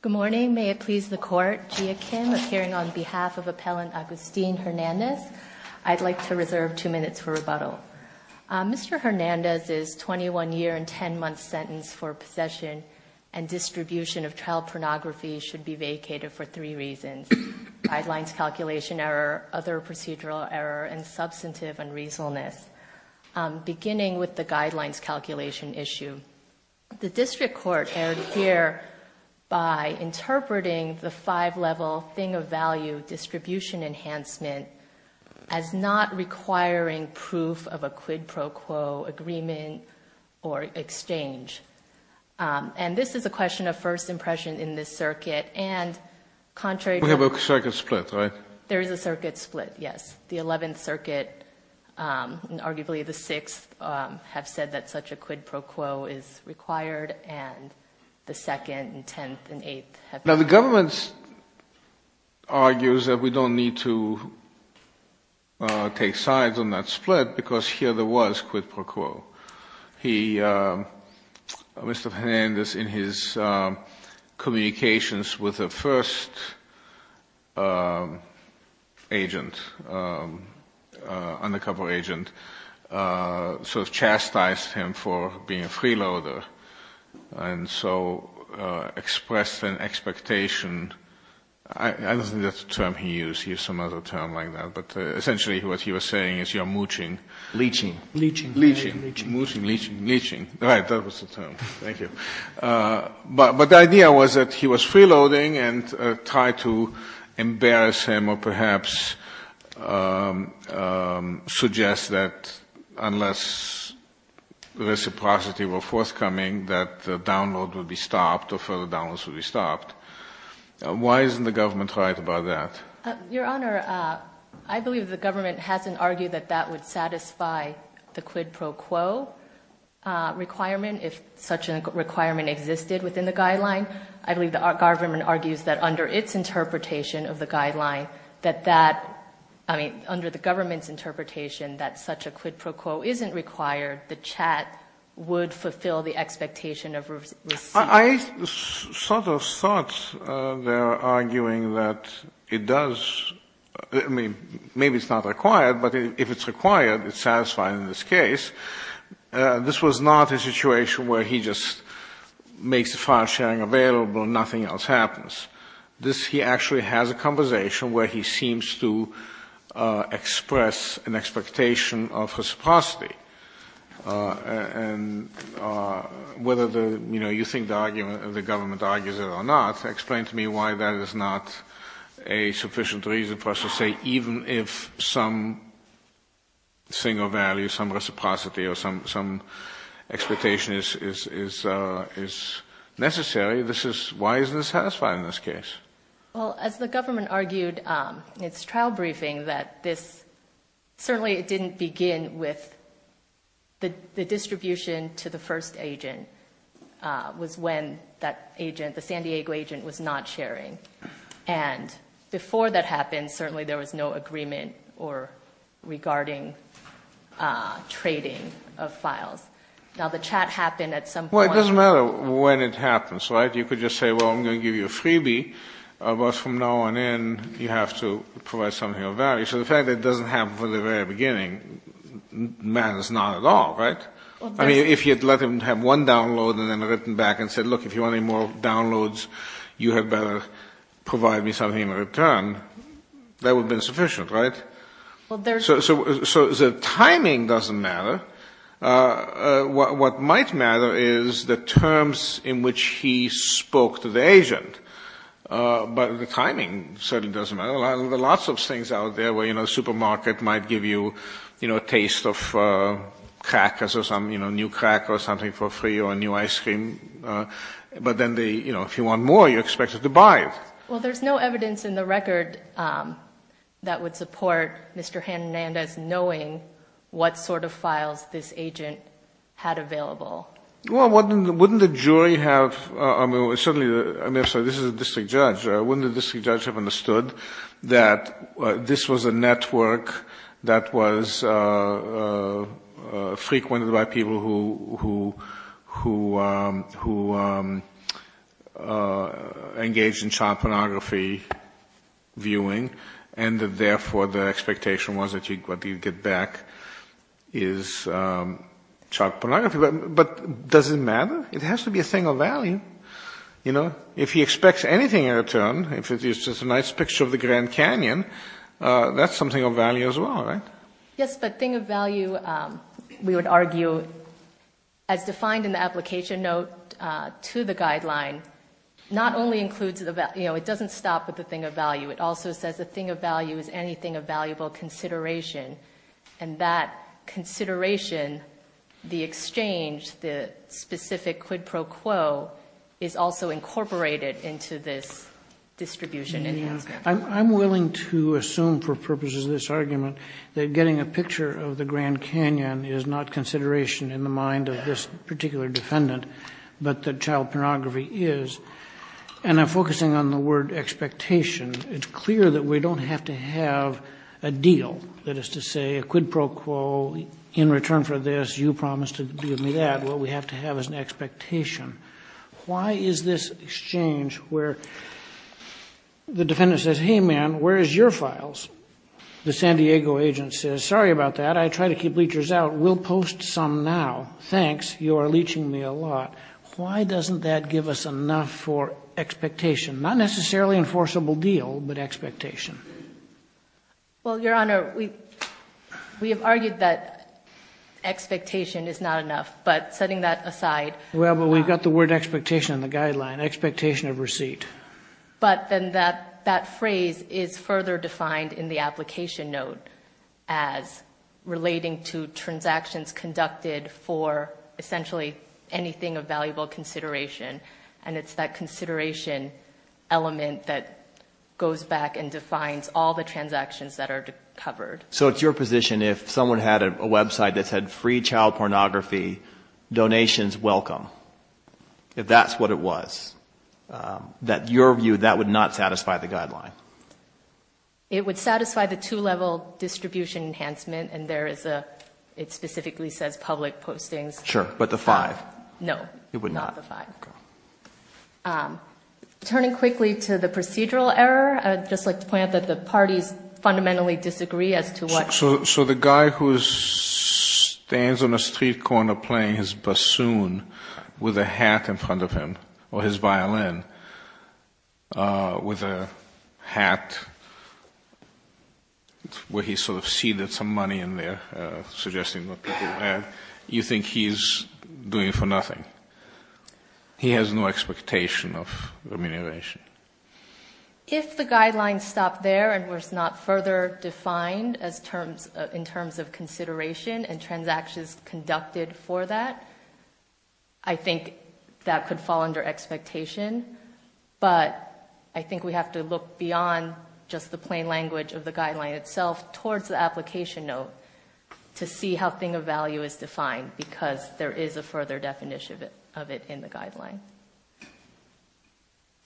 Good morning. May it please the court, Gia Kim, appearing on behalf of Appellant Agustin Hernandez. I'd like to reserve two minutes for rebuttal. Mr. Hernandez's 21 year and 10 month sentence for possession and distribution of child pornography should be vacated for three reasons. Guidelines calculation error, other procedural error, and substantive unreasonableness. Beginning with the guidelines calculation issue, the district court erred here by interpreting the five level thing of value distribution enhancement as not requiring proof of a quid pro quo agreement or exchange. And this is a question of first impression in this circuit, and contrary to... We have a circuit split, right? There is a circuit split, yes. The 11th Circuit and arguably the 6th have said that such a quid pro quo is required, and the 2nd and 10th and 8th have... Mr. Hernandez, in his communications with the first agent, undercover agent, sort of chastised him for being a freeloader, and so expressed an expectation, I don't think that's a term he used, he used some other term like that, but essentially what he was saying is you're mooching. Leeching. Leeching. Mooching, leeching, leeching. Right, that was the term. Thank you. But the idea was that he was freeloading and tried to embarrass him or perhaps suggest that unless reciprocity were forthcoming that the download would be stopped or further downloads would be stopped. Why isn't the government right about that? Your Honor, I believe the government hasn't argued that that would satisfy the quid pro quo requirement if such a requirement existed within the guideline. I believe the government argues that under its interpretation of the guideline, that that, I mean, under the government's interpretation that such a quid pro quo isn't required, the CHAT would fulfill the expectation of receipt. I sort of thought they were arguing that it does, I mean, maybe it's not required, but if it's required, it's satisfied in this case. This was not a situation where he just makes the file sharing available and nothing else happens. He actually has a conversation where he seems to express an expectation of reciprocity. And whether, you know, you think the government argues it or not, explain to me why that is not a sufficient reason for us to say even if some single value, some reciprocity or some expectation is necessary, why isn't it satisfied in this case? Well, as the government argued in its trial briefing, that this certainly didn't begin with the distribution to the first agent was when that agent, the San Diego agent, was not sharing. And before that happened, certainly there was no agreement regarding trading of files. Now, the CHAT happened at some point. Well, it doesn't matter when it happens, right? You could just say, well, I'm going to give you a freebie, but from now on in, you have to provide something of value. So the fact that it doesn't happen from the very beginning matters not at all, right? I mean, if you had let him have one download and then written back and said, look, if you want any more downloads, you had better provide me something in return, that would have been sufficient, right? So the timing doesn't matter. What might matter is the terms in which he spoke to the agent. But the timing certainly doesn't matter. There are lots of things out there where, you know, the supermarket might give you, you know, a taste of crackers or some, you know, a new cracker or something for free or a new ice cream, but then they, you know, if you want more, you're expected to buy it. Well, there's no evidence in the record that would support Mr. Hernandez knowing what sort of files this agent had available. Well, wouldn't the jury have, I mean, certainly, I'm sorry, this is a district judge, wouldn't the district judge have understood that this was a network that was frequented by people who engaged in child pornography viewing and that therefore the expectation was that what you'd get back is child pornography. But does it matter? It has to be a thing of value. You know, if he expects anything in return, if it's just a nice picture of the Grand Canyon, that's something of value as well, right? Yes, but thing of value, we would argue, as defined in the application note to the guideline, not only includes, you know, it doesn't stop with the thing of value, it also says the thing of value is anything of valuable consideration. And that consideration, the exchange, the specific quid pro quo is also incorporated into this distribution. I'm willing to assume for purposes of this argument that getting a picture of the Grand Canyon is not consideration in the mind of this particular defendant, but that child pornography is. And I'm focusing on the word expectation. It's clear that we don't have to have a deal, that is to say a quid pro quo in return for this, you promised to give me that. What we have to have is an expectation. Why is this exchange where the defendant says, hey man, where is your files? The San Diego agent says, sorry about that, I try to keep leechers out, we'll post some now. Thanks, you are leeching me a lot. Why doesn't that give us enough for expectation? Not necessarily enforceable deal, but expectation. Well, Your Honor, we have argued that expectation is not enough, but setting that aside. Well, but we've got the word expectation in the guideline, expectation of receipt. But then that phrase is further defined in the application note as relating to transactions conducted for essentially anything of valuable consideration. And it's that consideration element that goes back and defines all the transactions that are covered. So it's your position if someone had a website that said free child pornography, donations welcome, if that's what it was, that your view, that would not satisfy the guideline? It would satisfy the two-level distribution enhancement, and there is a, it specifically says public postings. Sure, but the five? No, not the five. Turning quickly to the procedural error, I'd just like to point out that the parties fundamentally disagree as to what... So the guy who stands on a street corner playing his bassoon with a hat in front of him, or his violin with a hat, where he's sort of seeded some money in there, suggesting what people will have, you think he's doing it for nothing? He has no expectation of remuneration. If the guideline stopped there and was not further defined in terms of consideration and transactions conducted for that, I think that could fall under expectation. But I think we have to look beyond just the plain language of the guideline itself towards the application note to see how thing of value is defined, because there is a further definition of it in the guideline.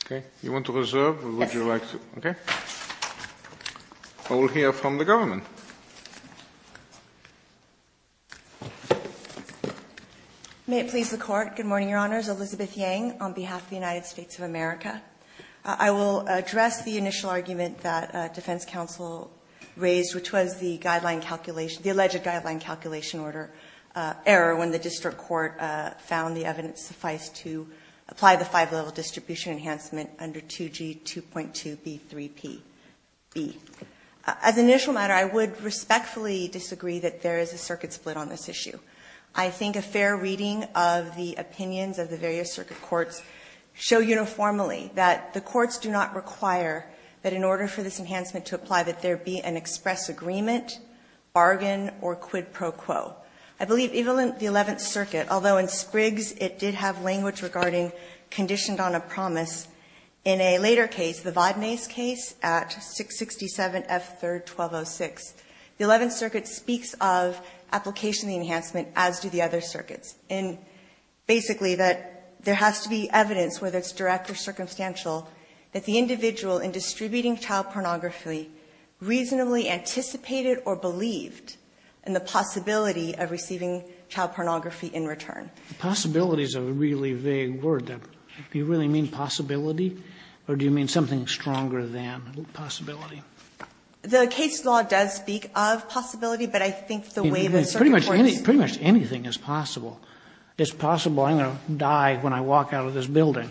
Okay. You want to reserve, or would you like to? Yes. Okay. I will hear from the government. May it please the court. Good morning, Your Honors. Elizabeth Yang on behalf of the United States of America. I will address the initial argument that defense counsel raised, which was the alleged guideline calculation error when the district court found the evidence suffice to apply the five-level distribution enhancement under 2G 2.2B3B. As an initial matter, I would respectfully disagree that there is a circuit split on this issue. I think a fair reading of the opinions of the various circuit courts show uniformly that the courts do not require that in order for this enhancement to apply that there be an express agreement, bargain, or quid pro quo. I believe even in the Eleventh Circuit, although in Spriggs it did have language regarding conditioned on a promise, in a later case, the Vodnase case at 667F3-1206, the Eleventh Circuit speaks of application of the enhancement as do the other circuits. And basically that there has to be evidence, whether it's direct or circumstantial, that the individual in distributing child pornography reasonably anticipated or believed in the possibility of receiving child pornography in return. Possibility is a really vague word. Do you really mean possibility, or do you mean something stronger than possibility? The case law does speak of possibility, but I think the way that circuit courts do it, pretty much anything is possible. It's possible I'm going to die when I walk out of this building.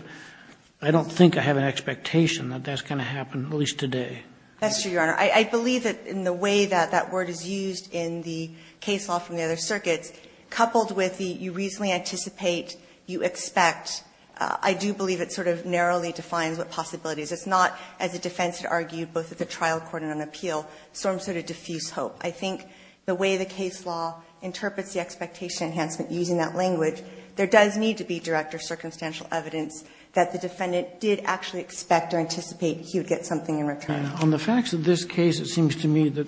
I don't think I have an expectation that that's going to happen, at least today. That's true, Your Honor. I believe that in the way that that word is used in the case law from the other circuits, coupled with the you reasonably anticipate, you expect, I do believe it sort of narrowly defines what possibility is. It's not, as the defense had argued, both at the trial court and on appeal, some sort of diffuse hope. I think the way the case law interprets the expectation enhancement using that language, there does need to be direct or circumstantial evidence that the defendant did actually expect or anticipate he would get something in return. On the facts of this case, it seems to me that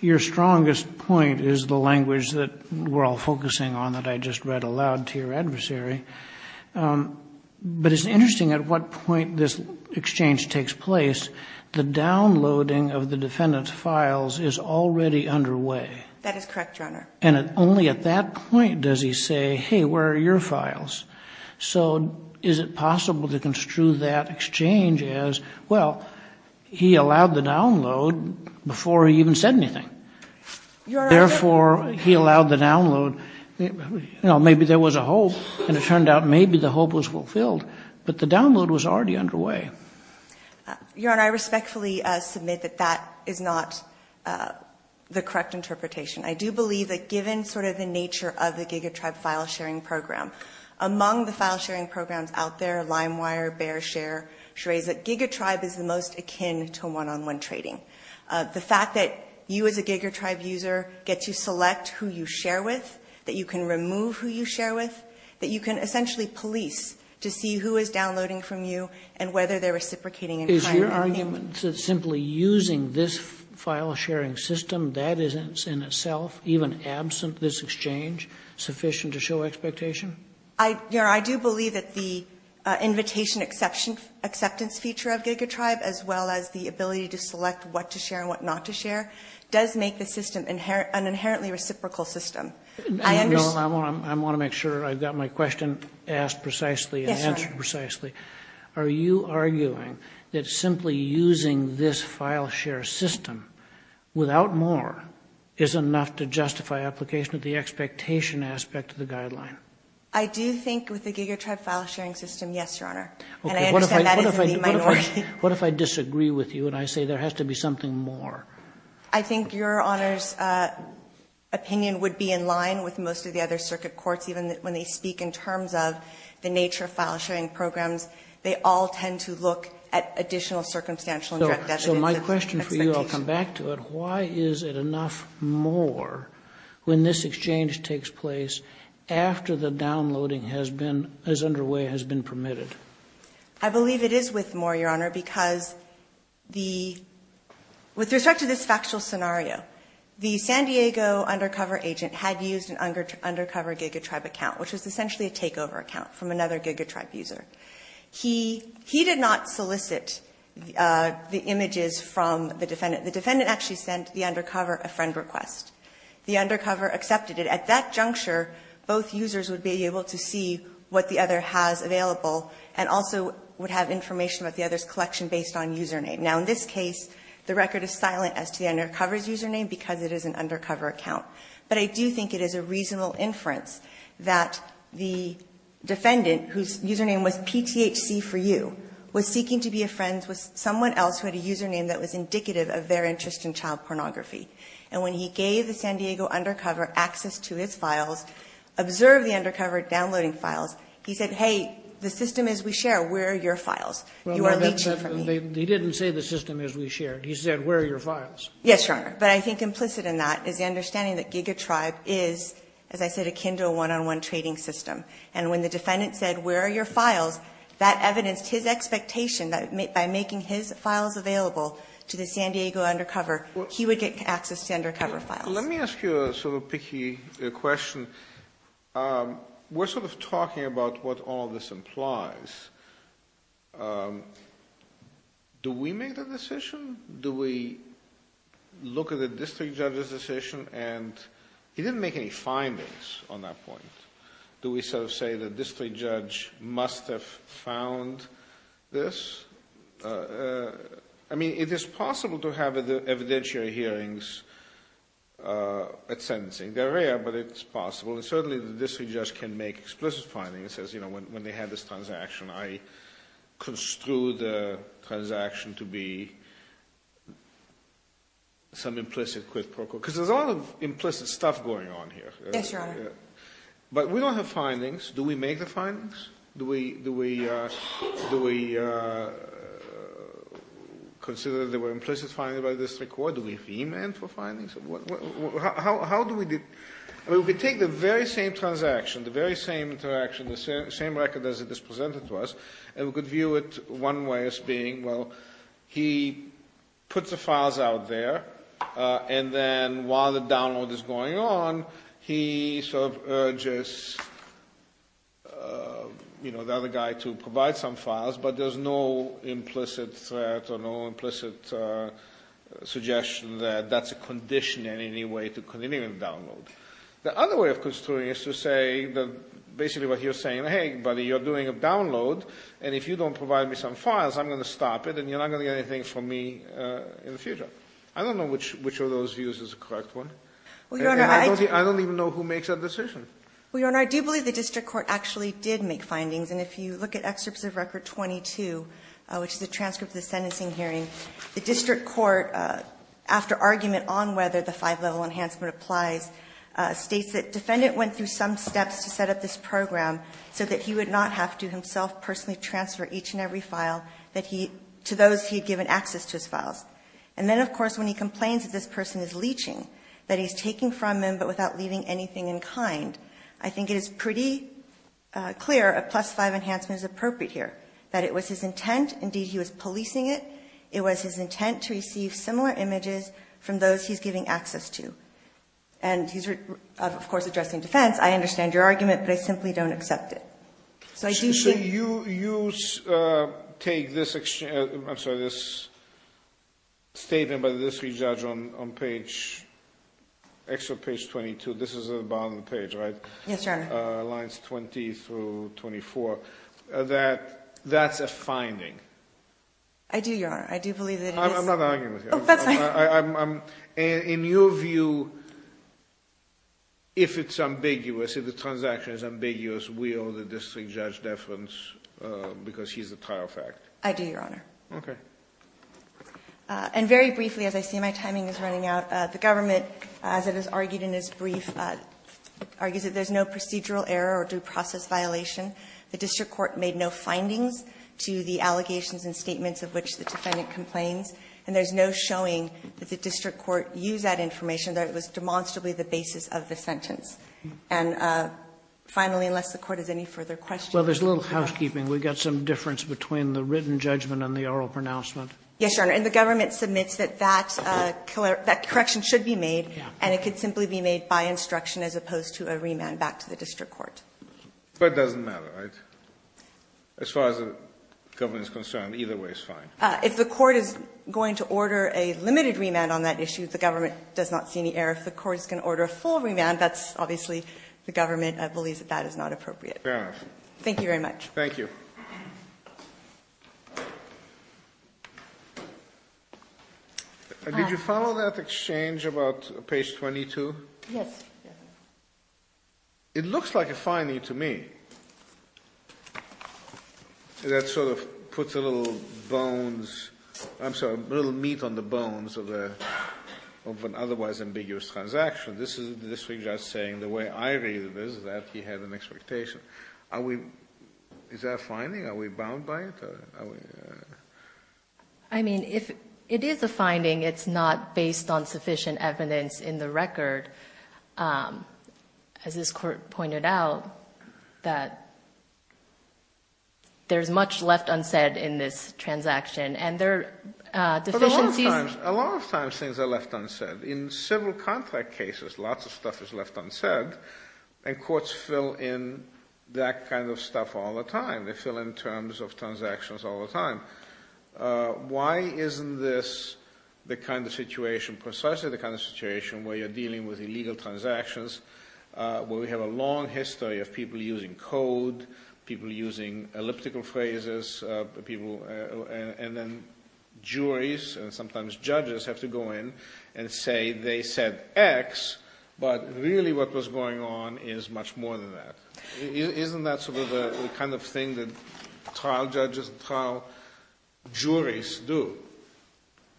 your strongest point is the language that we're all focusing on, that I just read aloud to your adversary. But it's interesting at what point this exchange takes place. The downloading of the defendant's files is already underway. That is correct, Your Honor. And only at that point does he say, hey, where are your files? So is it possible to construe that exchange as, well, he allowed the download before he even said anything. Therefore, he allowed the download. Maybe there was a hope, and it turned out maybe the hope was fulfilled. But the download was already underway. Your Honor, I respectfully submit that that is not the correct interpretation. I do believe that given sort of the nature of the GigaTribe file sharing program, among the file sharing programs out there, LimeWire, BearShare, Shreza, GigaTribe is the most akin to one-on-one trading. The fact that you as a GigaTribe user get to select who you share with, that you can remove who you share with, that you can essentially police to see who is downloading from you and whether they're reciprocating. Is your argument that simply using this file sharing system, that is in itself, even absent this exchange, sufficient to show expectation? Your Honor, I do believe that the invitation acceptance feature of GigaTribe, as well as the ability to select what to share and what not to share, does make the system an inherently reciprocal system. I want to make sure I've got my question asked precisely and answered precisely. Are you arguing that simply using this file share system without more is enough to justify application of the expectation aspect of the guideline? I do think with the GigaTribe file sharing system, yes, Your Honor. What if I disagree with you and I say there has to be something more? I think Your Honor's opinion would be in line with most of the other circuit courts, even when they speak in terms of the nature of file sharing programs. They all tend to look at additional circumstantial and direct evidence. So my question for you, I'll come back to it. Why is it enough more when this exchange takes place after the downloading has been, is underway, has been permitted? I believe it is with more, Your Honor, because the, with respect to this factual scenario, the San Diego undercover agent had used an undercover GigaTribe account, which was essentially a takeover account from another GigaTribe user. He did not solicit the images from the defendant. The defendant actually sent the undercover a friend request. The undercover accepted it. At that juncture, both users would be able to see what the other has available and also would have information about the other's collection based on username. Now, in this case, the record is silent as to the undercover's username because it is an undercover account. But I do think it is a reasonable inference that the defendant, whose username was PTHC4U, was seeking to be friends with someone else who had a username that was indicative of their interest in child pornography. And when he gave the San Diego undercover access to his files, observed the undercover downloading files, he said, Hey, the system is we share. Where are your files? You are leaching from me. They didn't say the system is we share. He said where are your files. Yes, Your Honor. But I think implicit in that is the understanding that GigaTribe is, as I said, akin to a one-on-one trading system. And when the defendant said where are your files, that evidenced his expectation that by making his files available to the San Diego undercover, he would get access to the undercover files. Let me ask you a sort of picky question. We're sort of talking about what all this implies. Do we make the decision? Do we look at the district judge's decision? And he didn't make any findings on that point. Do we sort of say the district judge must have found this? I mean, it is possible to have evidentiary hearings at sentencing. They're rare, but it's possible. And certainly the district judge can make explicit findings, says, you know, when they had this transaction, I construed the transaction to be some implicit quid pro quo. Because there's a lot of implicit stuff going on here. Yes, Your Honor. But we don't have findings. Do we make the findings? Do we consider that there were implicit findings by the district court? Do we e-mail for findings? How do we do it? Well, we take the very same transaction, the very same interaction, the same record as it is presented to us, and we could view it one way as being, well, he puts the files out there, and then while the download is going on, he sort of urges, you know, the other guy to provide some files, but there's no implicit threat or no implicit suggestion that that's a condition in any way to continue the download. The other way of construing it is to say basically what he was saying, hey, buddy, you're doing a download, and if you don't provide me some files, I'm going to stop it, and you're not going to get anything from me in the future. I don't know which of those views is the correct one. I don't even know who makes that decision. Well, Your Honor, I do believe the district court actually did make findings. And if you look at Excerpts of Record 22, which is a transcript of the sentencing hearing, the district court, after argument on whether the five-level enhancement applies, states that defendant went through some steps to set up this program so that he would not have to himself personally transfer each and every file to those he had given access to his files. And then, of course, when he complains that this person is leeching, that he's taking from him but without leaving anything in kind, I think it is pretty clear a plus-five enhancement is appropriate here, that it was his intent, indeed he was policing it, it was his intent to receive similar images from those he's giving access to. And he's, of course, addressing defense. I understand your argument, but I simply don't accept it. So you take this statement by the district judge on Excerpt Page 22. This is at the bottom of the page, right? Yes, Your Honor. Lines 20 through 24. That's a finding. I do, Your Honor. I do believe that it is. I'm not arguing with you. Oh, that's fine. In your view, if it's ambiguous, if the transaction is ambiguous, will the district judge deference because he's a tile fact? I do, Your Honor. Okay. And very briefly, as I see my timing is running out, the government, as it is argued in this brief, argues that there's no procedural error or due process violation. The district court made no findings to the allegations and statements of which the defendant complains. And there's no showing that the district court used that information, that it was demonstrably the basis of the sentence. And finally, unless the Court has any further questions. Well, there's a little housekeeping. We've got some difference between the written judgment and the oral pronouncement. Yes, Your Honor. And the government submits that that correction should be made, and it could simply be made by instruction as opposed to a remand back to the district court. But it doesn't matter, right? As far as the government is concerned, either way is fine. If the court is going to order a limited remand on that issue, the government does not see any error. If the court is going to order a full remand, that's obviously the government believes that that is not appropriate. Fair enough. Thank you very much. Thank you. Did you follow that exchange about page 22? Yes. It looks like a finding to me that sort of puts a little meat on the bones of an otherwise ambiguous transaction. This is the district judge saying the way I read it is that he had an expectation. Is that a finding? Are we bound by it? I mean, it is a finding. It's not based on sufficient evidence in the record. As this court pointed out, that there is much left unsaid in this transaction, and there are deficiencies. A lot of times things are left unsaid. In several contract cases, lots of stuff is left unsaid, and courts fill in that kind of stuff all the time. They fill in terms of transactions all the time. Why isn't this the kind of situation, precisely the kind of situation where we are dealing with illegal transactions, where we have a long history of people using code, people using elliptical phrases, and then juries and sometimes judges have to go in and say they said X, but really what was going on is much more than that. Isn't that sort of the kind of thing that trial judges and trial juries do?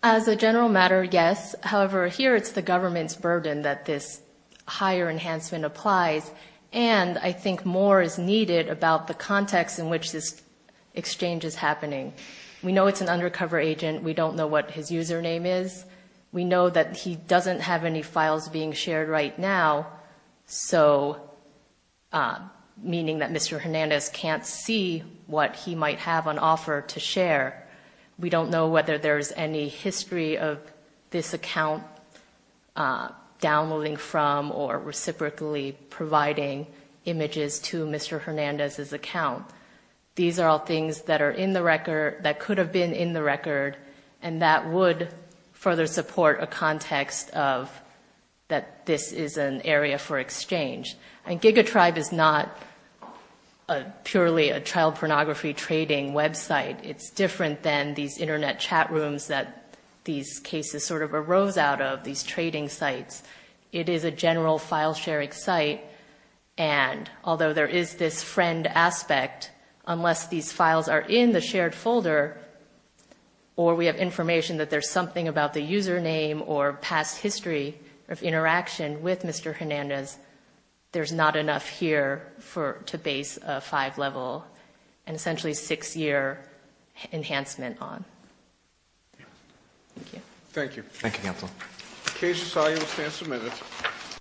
As a general matter, yes. However, here it's the government's burden that this higher enhancement applies, and I think more is needed about the context in which this exchange is happening. We know it's an undercover agent. We don't know what his username is. We know that he doesn't have any files being shared right now, meaning that Mr. Hernandez can't see what he might have on offer to share. We don't know whether there's any history of this account downloading from or reciprocally providing images to Mr. Hernandez's account. These are all things that are in the record, that could have been in the record, and that would further support a context of that this is an area for exchange. And GigaTribe is not purely a child pornography trading website. It's different than these Internet chat rooms that these cases sort of arose out of, these trading sites. It is a general file-sharing site, and although there is this friend aspect, unless these files are in the shared folder or we have information that there's something about the username or past history of interaction with Mr. Hernandez, there's not enough here to base a five-level and essentially six-year enhancement on. Thank you. Thank you. Thank you, Counsel. The case is solved. We'll stand some minutes.